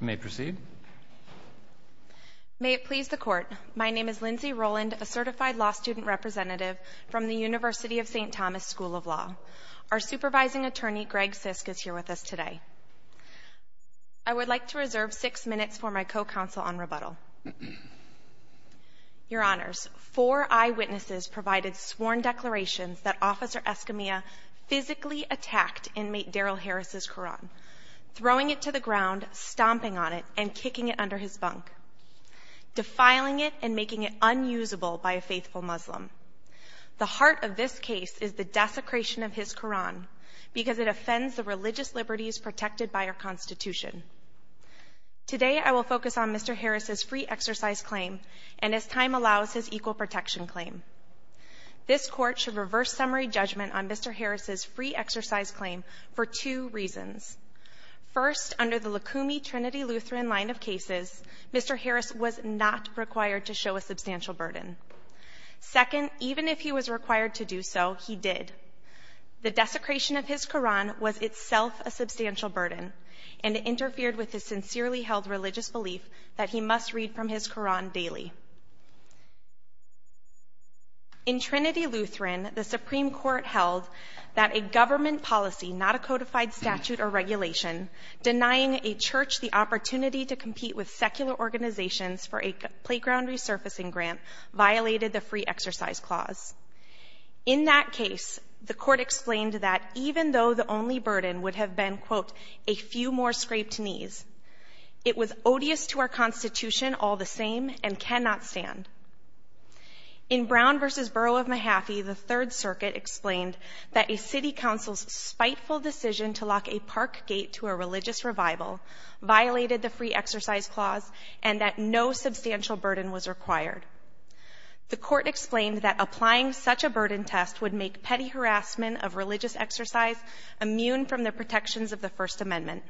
May it please the Court, my name is Lindsay Rowland, a certified law student representative from the University of St. Thomas School of Law. Our supervising attorney, Greg Sisk, is here with us today. I would like to reserve six minutes for my co-counsel on rebuttal. Your Honors, four eyewitnesses provided sworn declarations that Officer Escamilla physically attacked inmate Darrell Harris' Qur'an, throwing it to the ground, stomping on it, and kicking it under his bunk, defiling it and making it unusable by a faithful Muslim. The heart of this case is the desecration of his Qur'an because it offends the religious liberties protected by our Constitution. Today I will focus on Mr. Harris' free exercise claim and as time allows, his equal protection claim. This Court should reverse summary judgment on Mr. Harris' free exercise claim for two reasons. First, under the Lukumi-Trinity-Lutheran line of cases, Mr. Harris was not required to show a substantial burden. Second, even if he was required to do so, he did. The desecration of his Qur'an was itself a substantial burden, and it interfered with his sincerely held religious belief that he must read from his Qur'an daily. In Trinity-Lutheran, the Supreme Court held that a government policy, not a codified statute or regulation, denying a church the opportunity to compete with secular organizations for a playground resurfacing grant violated the free exercise clause. In that case, the Court explained that even though the only burden would have been, quote, a few more scraped knees, it was odious to our Constitution all the same and cannot stand. In Brown v. Borough of Mahaffey, the Third Circuit explained that a city council's spiteful decision to lock a park gate to a religious revival violated the free exercise clause and that no substantial burden was required. The Court explained that applying such a burden test would make petty harassment of religious exercise immune from the protections of the First Amendment.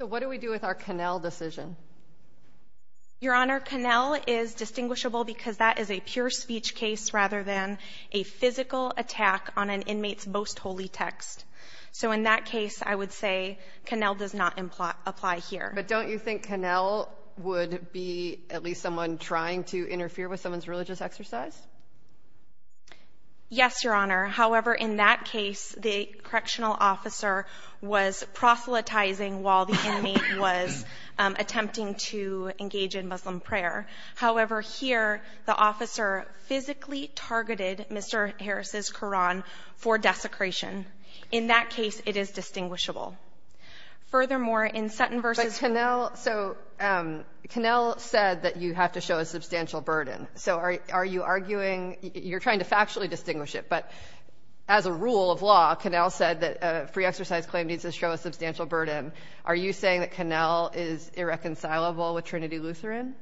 So what do we do with our Connell decision? Your Honor, Connell is distinguishable because that is a pure speech case rather than a physical attack on an inmate's most holy text. So in that case, I would say Connell does not imply here. But don't you think Connell would be at least someone trying to interfere with someone's religious exercise? Yes, Your Honor. However, in that case, the correctional officer was proselytizing while the inmate was attempting to engage in Muslim prayer. However, here, Connell is saying that the officer physically targeted Mr. Harris's Quran for desecration. In that case, it is distinguishable. Furthermore, in Sutton v. Brown of Mahaffey But Connell so Connell said that you have to show a substantial burden. So are you arguing you're trying to factually distinguish it, but as a rule of law, Connell said that a free exercise claim needs to show a substantial burden. Are you saying that Connell is irreconcilable with Trinity Lutheran?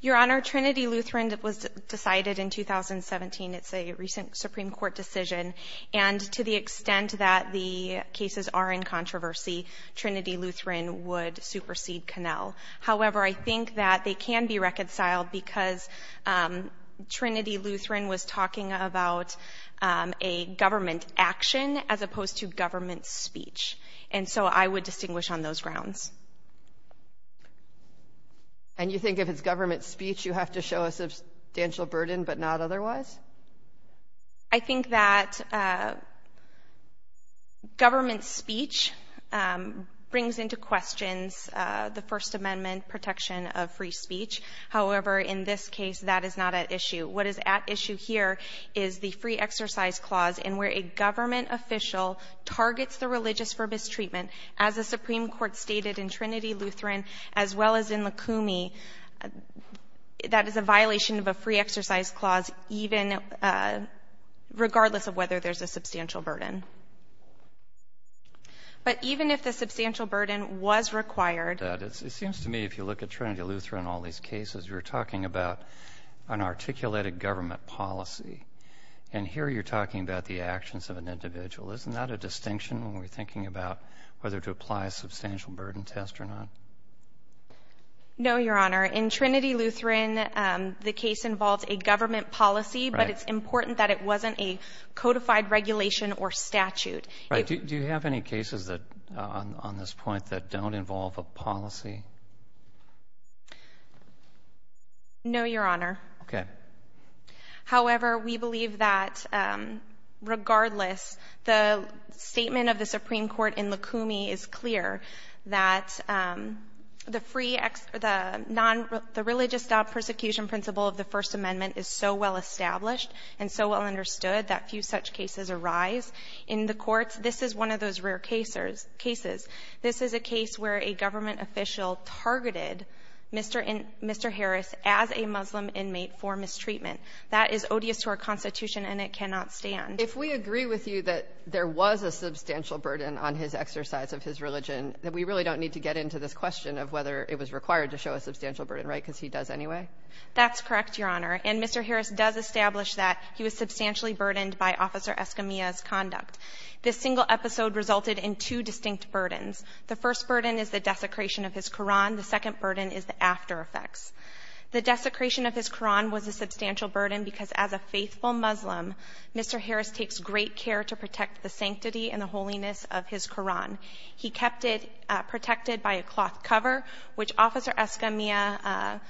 Your Honor, Trinity Lutheran was decided in 2017. It's a recent Supreme Court decision. And to the extent that the cases are in controversy, Trinity Lutheran would supersede Connell. However, I think that they can be reconciled because Trinity Lutheran was talking about a government action as opposed to government speech. And so I would distinguish on those grounds. And you think if it's government speech, you have to show a substantial burden, but not otherwise? I think that government speech brings into questions the First Amendment protection of free speech. However, in this case, that is not at issue. What is at issue here is the violation of a free exercise clause in where a government official targets the religious for mistreatment, as the Supreme Court stated in Trinity Lutheran as well as in Lukumi, that is a violation of a free exercise clause even regardless of whether there's a substantial burden. But even if the substantial burden was required to be met, it seems to me if you look at Trinity Lutheran and all these cases, you're talking about an articulated government policy. And here you're talking about the actions of an individual. Isn't that a distinction when we're thinking about whether to apply a substantial burden test or not? No, Your Honor. In Trinity Lutheran, the case involves a government policy, but it's important that it wasn't a codified regulation or statute. Do you have any cases on this point that don't involve a policy? No, Your Honor. Okay. However, we believe that regardless, the statement of the Supreme Court in Lukumi is clear that the free ex — the non-religious persecution principle of the First Amendment is so well-established and so well-understood that few such cases arise in the courts. This is one of those rare cases. This is a case where a government official targeted Mr. Harris as a Muslim inmate for mistreatment. That is odious to our Constitution, and it cannot stand. If we agree with you that there was a substantial burden on his exercise of his religion, we really don't need to get into this question of whether it was required to show a substantial burden, right, because he does anyway? That's correct, Your Honor. And Mr. Harris does establish that he was substantially burdened by Officer Escamilla's conduct. This single episode resulted in two distinct burdens. The first burden is the desecration of his Koran. The second burden is the after-effects. The desecration of his Koran was a substantial burden because as a faithful Muslim, Mr. Harris takes great care to protect the sanctity and the holiness of his Koran. He kept it protected by a cloth cover, which Officer Escamilla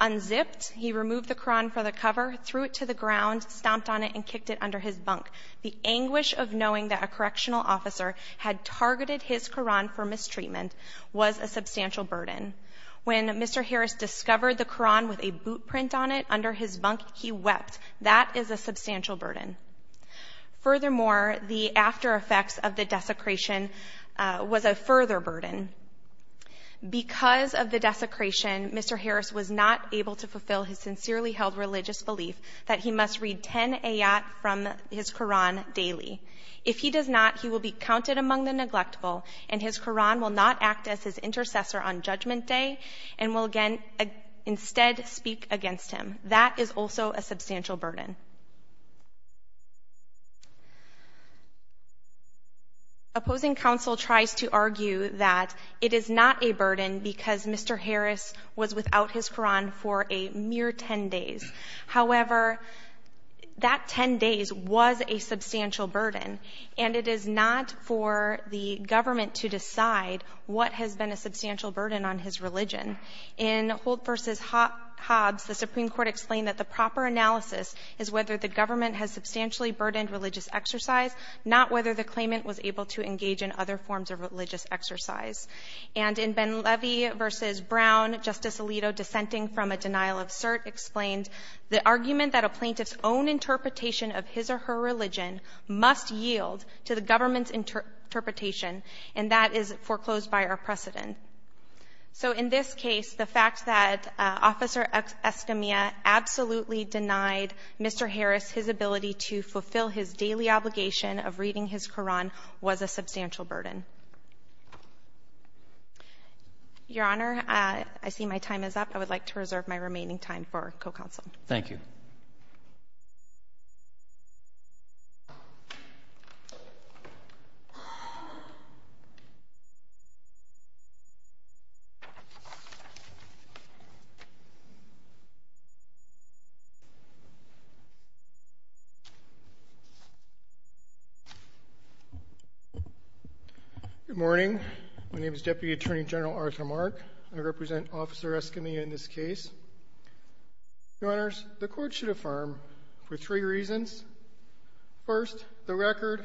unzipped. He removed the Koran from the cover, threw it to the ground, stomped on it, and kicked it under his bunk. The anguish of knowing that a correctional officer had targeted his Koran for mistreatment was a substantial burden. When Mr. Harris discovered the Koran with a boot print on it under his bunk, he wept. That is a substantial burden. Furthermore, the after-effects of the desecration was a further burden. Because of the desecration, Mr. Harris was not able to fulfill his sincerely held religious belief that he must read 10 ayat from his Koran daily. If he does not, he will be counted among the neglectful, and his Koran will not act as his intercessor on Judgment Day and will instead speak against him. That is also a substantial burden. Opposing counsel tries to argue that it is not a burden because Mr. Harris was without his Koran for a mere 10 days. However, that 10 days was a substantial burden. And it is not for the government to decide what has been a substantial burden on his religion. In Holt v. Hobbs, the Supreme Court explained that the proper analysis is whether the government has substantially burdened religious exercise, not whether the claimant was able to engage in other forms of religious exercise. And in Ben-Levy v. Brown, Justice Alito, dissenting from a denial of cert, explained the argument that a plaintiff's own interpretation of his or her religion must yield to the government's interpretation, and that is foreclosed by our precedent. So in this case, the fact that Officer Escamilla absolutely denied Mr. Harris his ability to fulfill his daily obligation of reading his Koran was a substantial burden. Your Honor, I see my time is up. I would like to reserve my remaining time for co-counsel. Thank you. Good morning. My name is Deputy Attorney General Arthur Mark. I represent Officer Escamilla in this case. Your Honors, the Court should affirm for three reasons. First, the record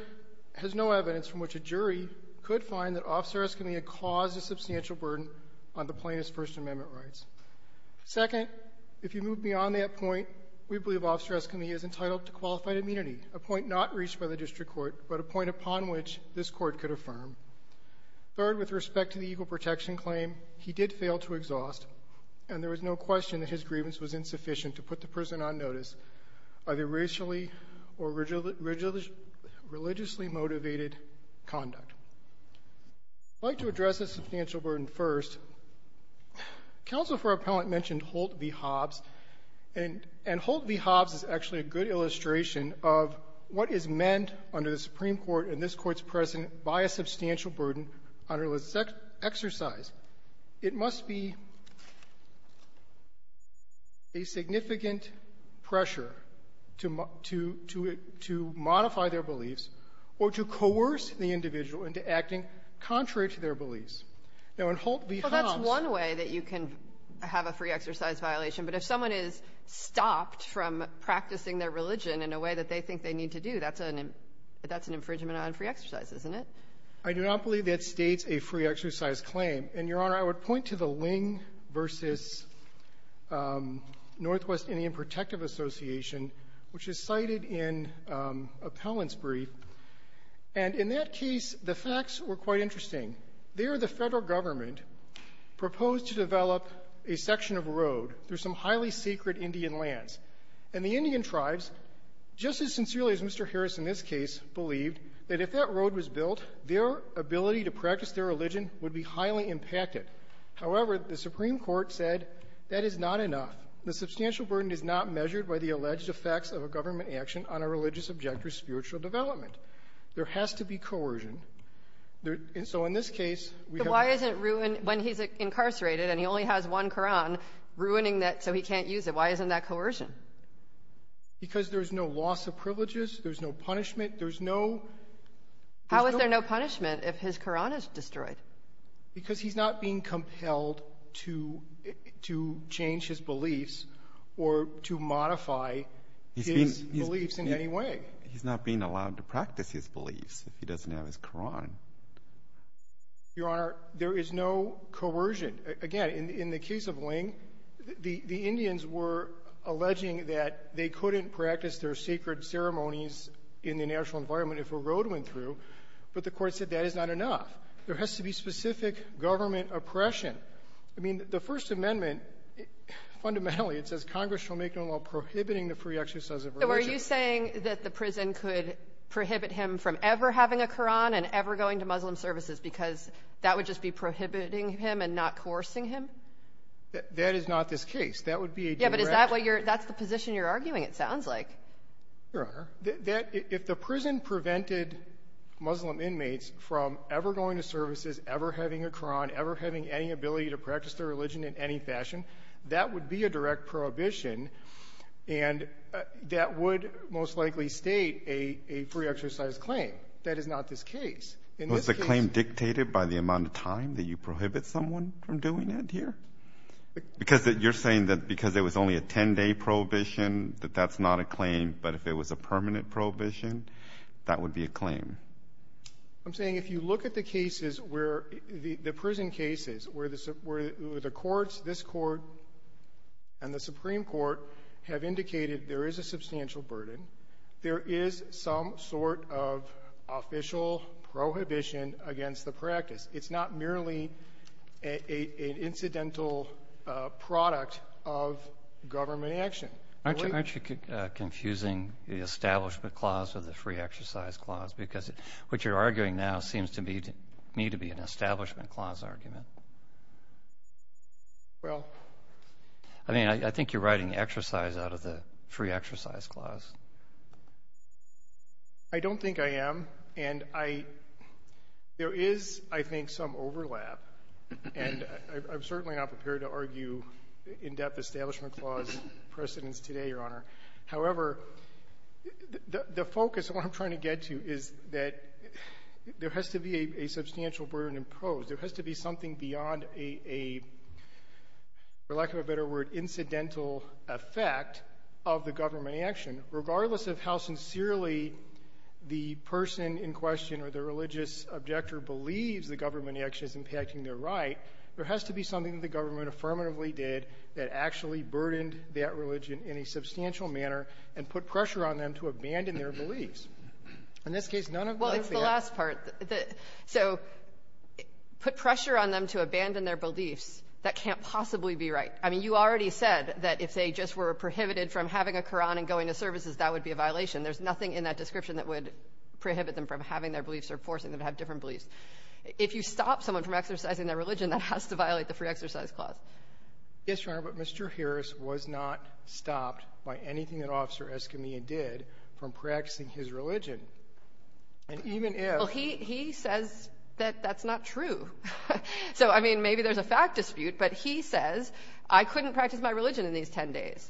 has no evidence from which a jury could find that Officer Escamilla caused a substantial burden on the plaintiff's First Amendment rights. Second, if you move beyond that point, we believe Officer Escamilla is entitled to qualified immunity, a point not reached by the district court, but a point upon which this Court could affirm. Third, with respect to the equal protection claim, he did fail to exhaust, and there was no question that his grievance was insufficient to put the person on notice of a racially or religiously motivated conduct. I'd like to address the substantial burden first. Counsel for Appellant mentioned Holt v. Hobbs, and Holt v. Hobbs is actually a good illustration of what is meant under the Supreme Court and this Court's precedent by a substantial burden on religious exercise. It must be a significant pressure to modify their beliefs or to coerce the individual into acting contrary to their beliefs. Now, in Holt v. Hobbs — Well, that's one way that you can have a free exercise violation, but if someone is stopped from practicing their religion in a way that they think they need to do, that's an infringement on free exercise, isn't it? I do not believe that states a free exercise claim. And, Your Honor, I would point to the Ling v. Northwest Indian Protective Association, which is cited in Appellant's brief. And in that case, the facts were quite interesting. There, the Federal Government proposed to develop a section of road through some religious objectives, and the jurists in this case believed that if that road was built, their ability to practice their religion would be highly impacted. However, the Supreme Court said that is not enough. The substantial burden is not measured by the alleged effects of a government action on a religious objective's spiritual development. There has to be coercion. And so in this case, we have to — But why isn't ruin — when he's incarcerated and he only has one Quran, ruining that so he can't use it, why isn't that coercion? Because there's no loss of privileges, there's no punishment, there's no — How is there no punishment if his Quran is destroyed? Because he's not being compelled to change his beliefs or to modify his beliefs in any way. He's not being allowed to practice his beliefs if he doesn't have his Quran. Your Honor, there is no coercion. Again, in the case of Ling, the Indians were alleging that they couldn't practice their sacred ceremonies in the natural environment if a road went through, but the Court said that is not enough. There has to be specific government oppression. I mean, the First Amendment, fundamentally, it says Congress shall make no law prohibiting the free exercise of religion. So are you saying that the prison could prohibit him from ever having a Quran and ever going to Muslim services because that would just be prohibiting him and not coercing him? That is not this case. That would be a direct — Yeah, but is that what you're — that's the position you're arguing, it sounds like. Your Honor, if the prison prevented Muslim inmates from ever going to services, ever having a Quran, ever having any ability to practice their religion in any I would most likely state a free exercise claim. That is not this case. Was the claim dictated by the amount of time that you prohibit someone from doing it here? Because you're saying that because it was only a 10-day prohibition, that that's not a claim, but if it was a permanent prohibition, that would be a claim. I'm saying if you look at the cases where — the prison cases, where the courts, this Court and the Supreme Court, have indicated there is a substantial burden, there is some sort of official prohibition against the practice. It's not merely an incidental product of government action. Aren't you confusing the Establishment Clause with the Free Exercise Clause? Because what you're arguing now seems to me to be an Establishment Clause argument. Well — I mean, I think you're writing exercise out of the Free Exercise Clause. I don't think I am. And I — there is, I think, some overlap. And I'm certainly not prepared to argue in-depth Establishment Clause precedents today, Your Honor. However, the focus of what I'm trying to get to is that there has to be a substantial burden imposed. There has to be something beyond a, for lack of a better word, incidental effect of the government action. Regardless of how sincerely the person in question or the religious objector believes the government action is impacting their right, there has to be something that the government affirmatively did that actually burdened that religion in a substantial manner and put pressure on them to abandon their beliefs. In this case, none of that — So put pressure on them to abandon their beliefs. That can't possibly be right. I mean, you already said that if they just were prohibited from having a Quran and going to services, that would be a violation. There's nothing in that description that would prohibit them from having their beliefs or forcing them to have different beliefs. If you stop someone from exercising their religion, that has to violate the Free Exercise Clause. Yes, Your Honor, but Mr. Harris was not stopped by anything that Officer Escamilla did from practicing his religion. And even if — Well, he says that that's not true. So, I mean, maybe there's a fact dispute, but he says, I couldn't practice my religion in these 10 days.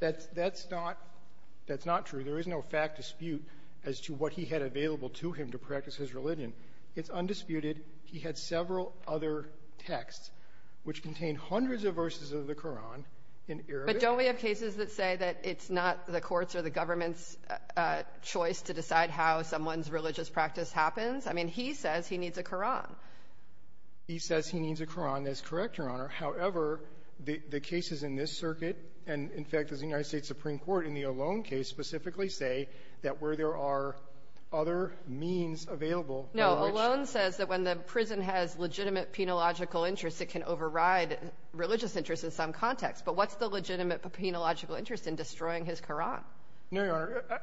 That's not true. There is no fact dispute as to what he had available to him to practice his religion. It's undisputed. He had several other texts which contain hundreds of verses of the Quran in Arabic. But don't we have cases that say that it's not the court's or the government's choice to decide how someone's religious practice happens? I mean, he says he needs a Quran. He says he needs a Quran. That's correct, Your Honor. However, the cases in this circuit and, in fact, the United States Supreme Court in the Olón case specifically say that where there are other means available for which — No. Olón says that when the prison has legitimate penological interests, it can override religious interests in some context. But what's the legitimate penological interest in destroying his Quran? No, Your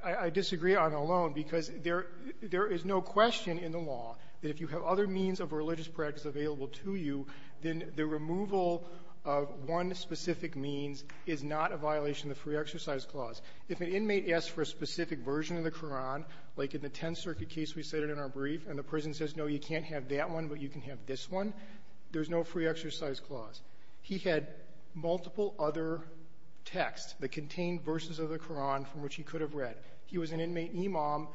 Honor. I disagree on Olón because there is no question in the law that if you have other means of religious practice available to you, then the removal of one specific means is not a violation of the free exercise clause. If an inmate asks for a specific version of the Quran, like in the Tenth Circuit case we cited in our brief, and the prison says, no, you can't have that one, but you can have this one, there's no free exercise clause. He had multiple other texts that contained verses of the Quran from which he could have read. He was an inmate imam.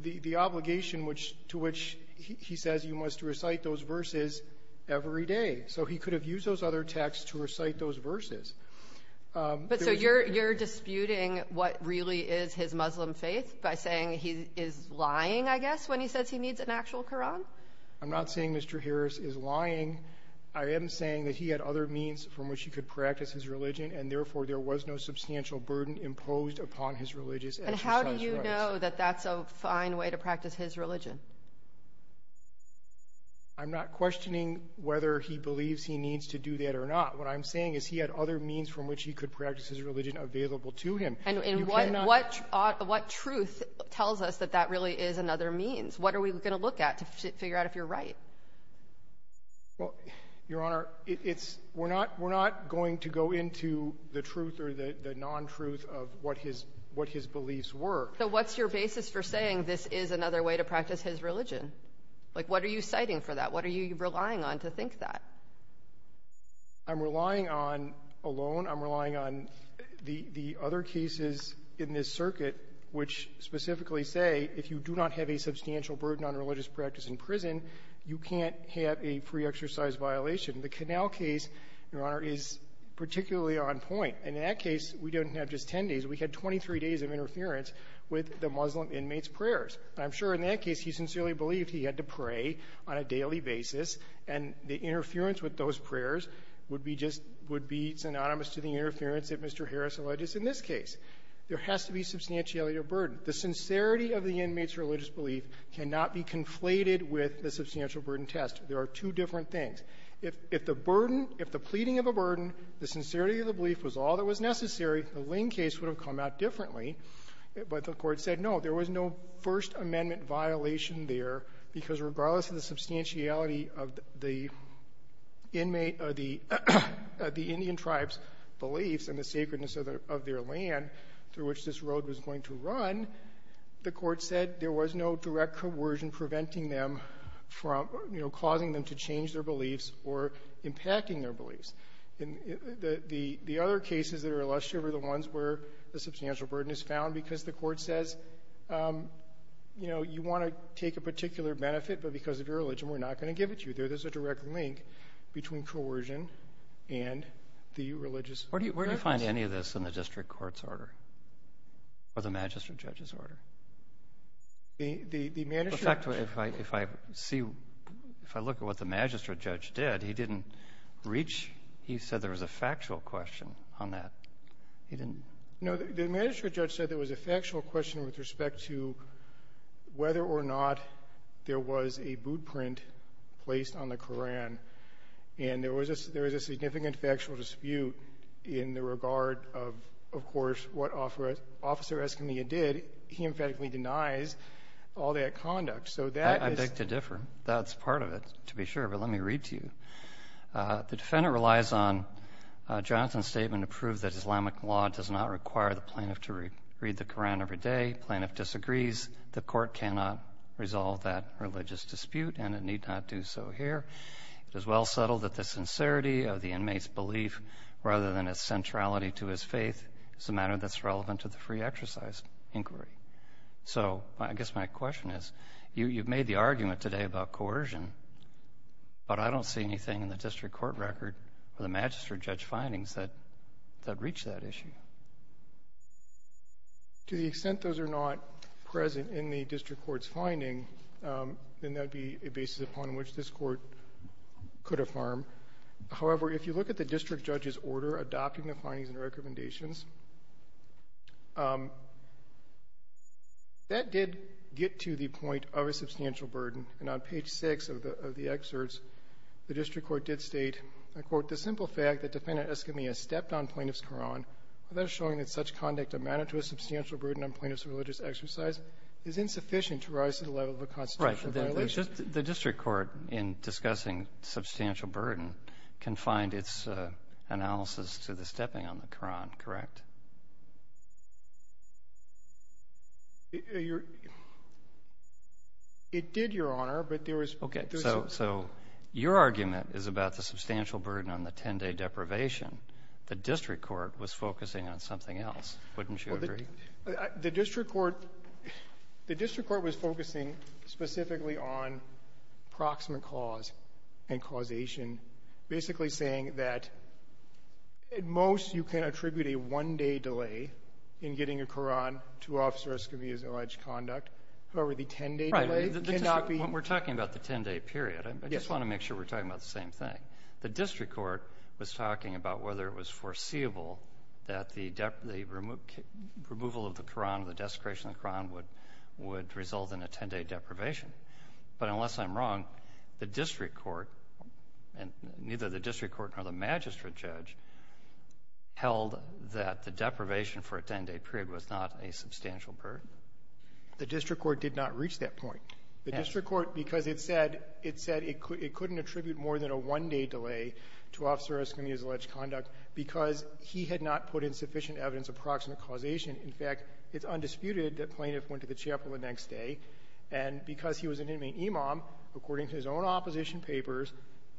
The obligation to which he says you must recite those verses every day. So he could have used those other texts to recite those verses. But so you're disputing what really is his Muslim faith by saying he is lying, I guess, when he says he needs an actual Quran? I'm not saying Mr. Harris is lying. I am saying that he had other means from which he could practice his religion, and therefore there was no substantial burden imposed upon his religious exercise rights. And how do you know that that's a fine way to practice his religion? I'm not questioning whether he believes he needs to do that or not. What I'm saying is he had other means from which he could practice his religion available to him. And what truth tells us that that really is another means? What are we going to look at to figure out if you're right? Well, Your Honor, we're not going to go into the truth or the non-truth of what his beliefs were. So what's your basis for saying this is another way to practice his religion? Like, what are you citing for that? What are you relying on to think that? I'm relying on alone. I'm relying on the other cases in this circuit which specifically say if you do not have a substantial burden on religious practice in prison, you can't have a free exercise violation. The Canal case, Your Honor, is particularly on point. In that case, we didn't have just 10 days. We had 23 days of interference with the Muslim inmates' prayers. And I'm sure in that case, he sincerely believed he had to pray on a daily basis, and the interference with those prayers would be just — would be synonymous to the interference that Mr. Harris alleged in this case. There has to be substantiality of burden. The sincerity of the inmate's religious belief cannot be conflated with the substantial burden test. There are two different things. If the burden — if the pleading of a burden, the sincerity of the belief was all that was necessary, the Ling case would have come out differently. But the Court said, no, there was no First Amendment violation there, because regardless of the substantiality of the inmate — of the Indian tribe's beliefs and the sacredness of their land through which this road was going to run, the Court said there was no direct coercion preventing them from, you know, causing them to change their beliefs or impacting their beliefs. The other cases that are illustrative are the ones where the substantial burden is found because the Court says, you know, you want to take a particular benefit, but because of your religion, we're not going to give it to you. There's a direct link between coercion and the religious — Where do you find any of this in the district court's order? Or the magistrate judge's In fact, if I see — if I look at what the magistrate judge did, he didn't reach — he said there was a factual question on that. No, the magistrate judge said there was a factual question with respect to whether or not there was a boot print placed on the Koran. And there was a significant factual dispute in the regard of, of course, what Officer Escamilla did. He emphatically denies all that conduct. So that is — I beg to differ. That's part of it, to be sure. But let me read to you. The defendant relies on Jonathan's statement to prove that Islamic law does not require the plaintiff to read the Koran every day. Plaintiff disagrees. The Court cannot resolve that religious dispute, and it need not do so here. It is well settled that the sincerity of the inmate's belief, rather than its centrality to his faith, is a matter that's relevant to the free exercise inquiry. So I guess my question is, you've made the argument today about coercion, but I don't see anything in the district court record or the magistrate judge's findings that reach that issue. To the extent those are not present in the district court's finding, then that would be a basis upon which this Court could affirm. However, if you look at the district judge's order adopting the Koran, that did get to the point of a substantial burden. And on page 6 of the excerpts, the district court did state, I quote, the simple fact that Defendant Eskamia stepped on Plaintiff's Koran, without showing that such conduct amounted to a substantial burden on Plaintiff's religious exercise, is insufficient to rise to the level of a constitutional violation. Right. The district court, in discussing substantial burden, can find its analysis to the stepping on the Koran, correct? It did, Your Honor, but there was Okay. So your argument is about the substantial burden on the 10-day deprivation. The district court was focusing on something else. Wouldn't you agree? The district court was focusing specifically on proximate clause and causation, basically saying that at most, you can attribute a one-day delay in getting a Koran to Officer Eskamia's alleged conduct. However, the 10-day delay Right. When we're talking about the 10-day period, I just want to make sure we're talking about the same thing. The district court was talking about whether it was foreseeable that the removal of the Koran, the desecration of the Koran, would result in a 10-day deprivation. But unless I'm wrong, the district court, neither the district court nor the magistrate judge, held that the deprivation for a 10-day period was not a substantial burden. The district court did not reach that point. The district court, because it said it couldn't attribute more than a one-day delay to Officer Eskamia's alleged conduct because he had not put in sufficient evidence of proximate causation. In fact, it's undisputed that plaintiff went to the chapel the next day, and because he was an inmate imam, according to his own opposition papers,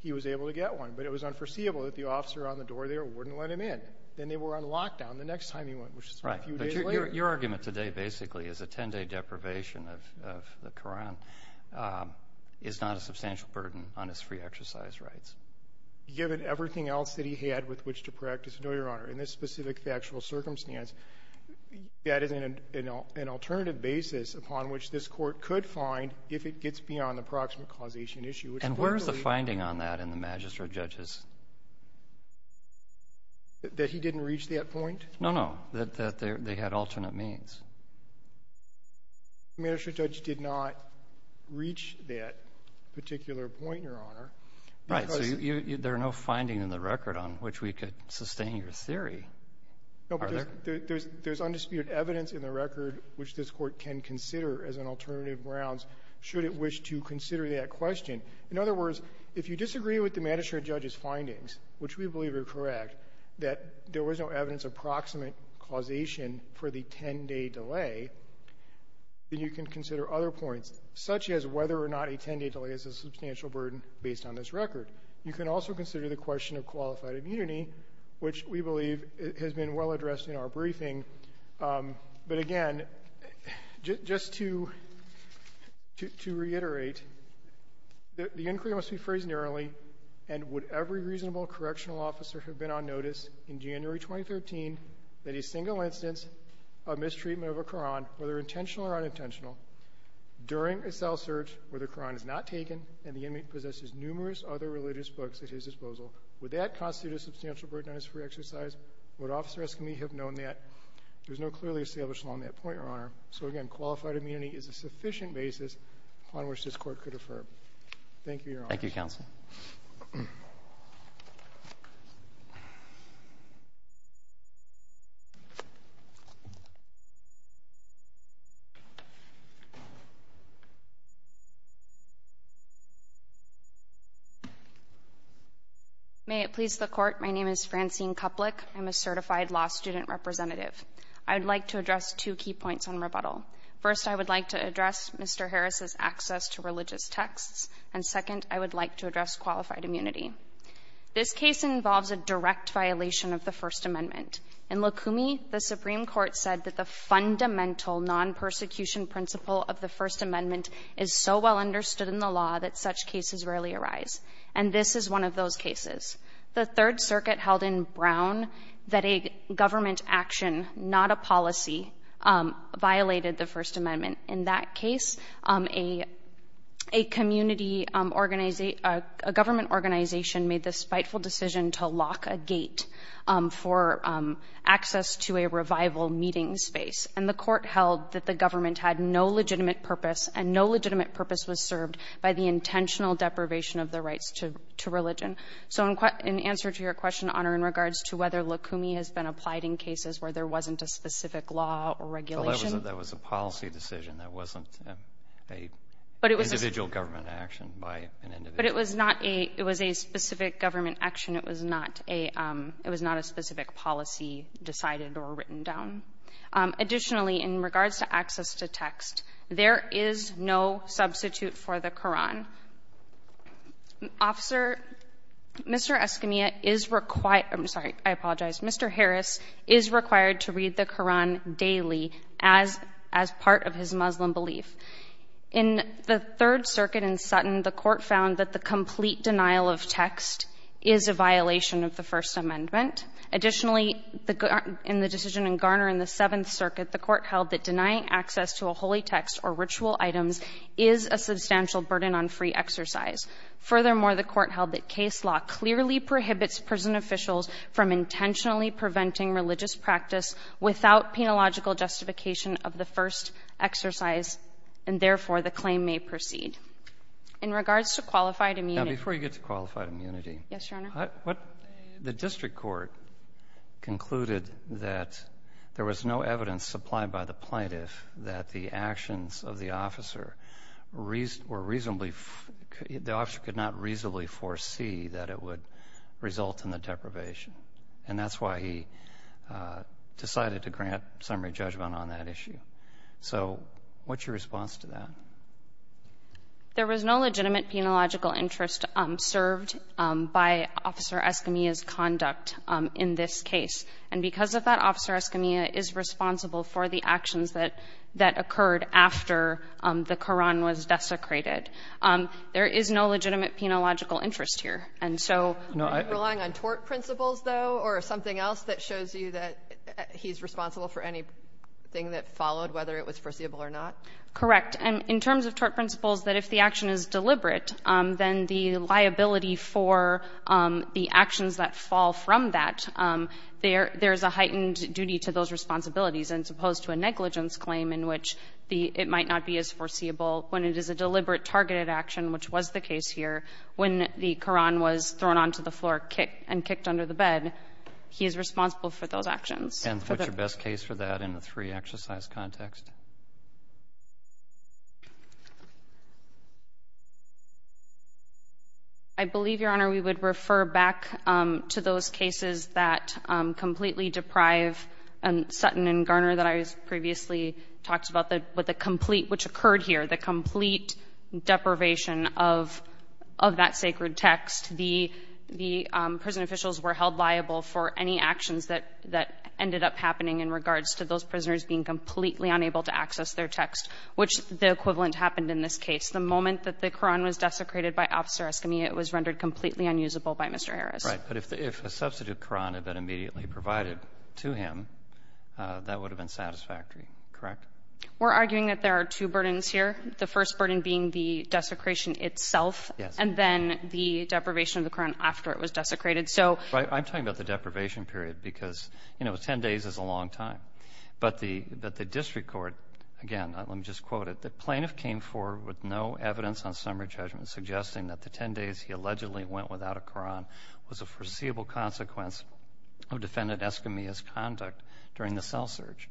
he was able to get one. But it was unforeseeable that the officer on the door there wouldn't let him in. Then they were on lockdown the next time he went, which is a few days later. Right. But your argument today, basically, is a 10-day deprivation of the Koran is not a substantial burden on his free exercise rights. Given everything else that he had with which to practice no, Your Honor, in this specific factual circumstance, that is an alternative basis upon which this Court could find if it gets beyond the proximate causation issue. And where is the finding on that in the magistrate judges? That he didn't reach that point? No, no. That they had alternate means. The magistrate judge did not reach that particular point, Your Honor. Right. So there are no finding in the record on which we could sustain your theory. No, but there's undisputed evidence in the record which this Court can consider as an alternative grounds should it wish to consider that question. In other words, if you disagree with the magistrate judge's findings, which we believe are correct, that there was no evidence of proximate causation for the 10-day delay, then you can consider other points, such as whether or not a 10-day delay is a substantial burden based on this record. You can also consider the question of qualified immunity, which we believe has been well addressed in our briefing. But again, just to reiterate, the inquiry must be phrased narrowly, and would every reasonable correctional officer have been on notice in January 2013 that a single instance of mistreatment of a Qur'an, whether intentional or unintentional, during a cell search where the Qur'an is not taken and the inmate possesses numerous other religious books at his disposal, would that constitute a substantial burden on his free exercise? Would Officer Eskami have known that? There's no clearly established law on that point, Your Honor. So again, qualified immunity is a sufficient basis on which this Court could affirm. Thank you, Your Honor. Thank you, Counsel. May it please the Court, my name is Francine Kuplic. I'm a certified law student representative. I would like to address two key points on rebuttal. First, I would like to address Mr. Harris's access to religious texts. And second, I would like to address qualified immunity. This case involves a direct violation of the First Amendment. In Lukumi, the Supreme Court said that the fundamental non-persecution principle of the First Amendment is so well understood in the law that such is one of those cases. The Third Circuit held in Brown that a government action, not a policy, violated the First Amendment. In that case, a community organization, a government organization made the spiteful decision to lock a gate for access to a revival meeting space. And the Court held that the government had no legitimate purpose, and no legitimate purpose was served by the intentional deprivation of the rights to religion. So in answer to your question, Honor, in regards to whether Lukumi has been applied in cases where there wasn't a specific law or regulation. That was a policy decision. That wasn't an individual government action by an individual. It was a specific government action. It was not a specific policy decided or written down. Additionally, in regards to access to text, there is no substitute for the Koran. Officer, Mr. Escamilla is required I'm sorry, I apologize. Mr. Harris is required to read the Koran daily as part of his Muslim belief. In the Third Circuit in Sutton, the Court found that the complete denial of text is a violation of the First Amendment. Additionally, in the decision in Garner in the Seventh Circuit, the Court held that denying access to a holy text or ritual items is a substantial burden on free exercise. Furthermore, the Court held that case law clearly prohibits prison officials from intentionally preventing religious practice without penalogical justification of the first exercise, and therefore, the claim may proceed. In regards to qualified immunity. Now, before you get to qualified immunity, the district court concluded that there was no evidence supplied by the evidence of the officer or reasonably the officer could not reasonably foresee that it would result in the deprivation. And that's why he decided to grant summary judgment on that issue. So, what's your response to that? There was no legitimate penological interest served by Officer Escamilla's conduct in this case, and because of that Officer Escamilla is responsible for the actions that occurred after the Quran was desecrated. There is no legitimate penological interest here. And so, relying on tort principles, though, or something else that shows you that he's responsible for anything that followed, whether it was foreseeable or not? Correct. In terms of tort principles, that if the action is deliberate, then the liability for the actions that fall from that, there's a heightened duty to those responsibilities, as opposed to a negligence claim in which it might not be as foreseeable. When it is a deliberate targeted action, which was the case here, when the Quran was thrown onto the floor and kicked under the bed, he is responsible for those actions. And what's your best case for that in the three exercise context? I believe, Your Honor, we would refer back to those cases that completely deprive Sutton and Garner that I previously talked about, which occurred here, the complete deprivation of that sacred text. The prison officials were held liable for any actions that ended up happening in regards to those prisoners being completely unable to access their text, which the equivalent happened in this case. The moment that the Quran was desecrated by Officer Eskimi, it was rendered completely unusable by Mr. Harris. But if a substitute Quran had been immediately provided to him, that would have been satisfactory, correct? We're arguing that there are two burdens here, the first burden being the desecration itself, and then the deprivation of the Quran after it was desecrated. I'm talking about the deprivation period because 10 days is a long time. But the district court, again, let me just quote it, the plaintiff came forward with no evidence on summary judgment suggesting that the 10 days he was a foreseeable consequence of Defendant Eskimi's conduct during the cell search.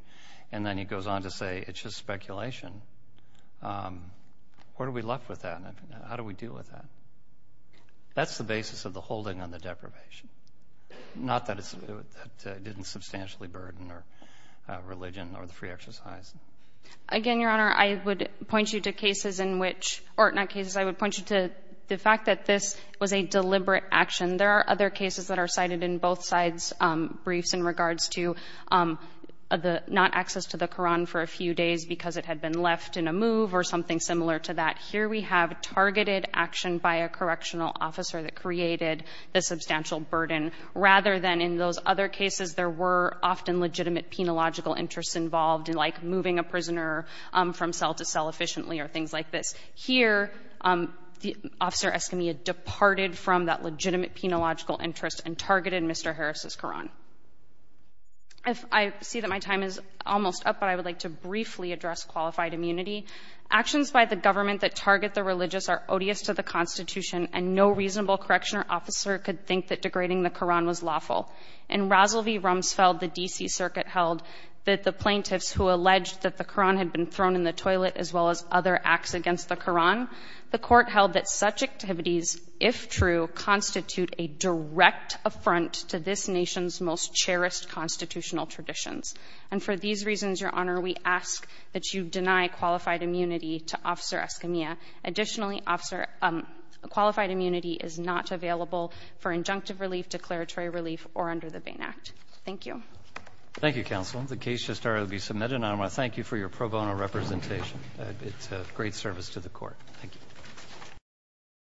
And then he goes on to say, it's just speculation. Where are we left with that? How do we deal with that? That's the basis of the holding on the deprivation. Not that it didn't substantially burden our religion or the free exercise. Again, Your Honor, I would point you to cases in which, or not cases, I would point you to the fact that this was a deliberate action. There are other cases that are cited in both sides briefs in regards to not access to the Quran for a few days because it had been left in a move or something similar to that. Here we have targeted action by a correctional officer that created the substantial burden. Rather than in those other cases, there were often legitimate penological interests involved, like moving a prisoner from cell to cell efficiently or things like this. Here, Officer Escamilla departed from that legitimate penological interest and targeted Mr. Harris' Quran. I see that my time is almost up but I would like to briefly address qualified immunity. Actions by the government that target the religious are odious to the Constitution and no reasonable correctional officer could think that degrading the Quran was lawful. In Rasel v. Rumsfeld, the D.C. Circuit held that the plaintiffs who alleged that the Quran had been thrown in the toilet as well as other acts against the Quran, the court held that such activities, if true, constitute a direct affront to this nation's most cherished constitutional traditions. And for these reasons, Your Honor, we ask that you deny qualified immunity to Officer Escamilla. Additionally, Officer, qualified immunity is not available for injunctive relief, declaratory relief or under the Bain Act. Thank you. Thank you, Counsel. The case just started to be submitted and I want to thank you for your pro bono representation. It's a great service to the court. Thank you.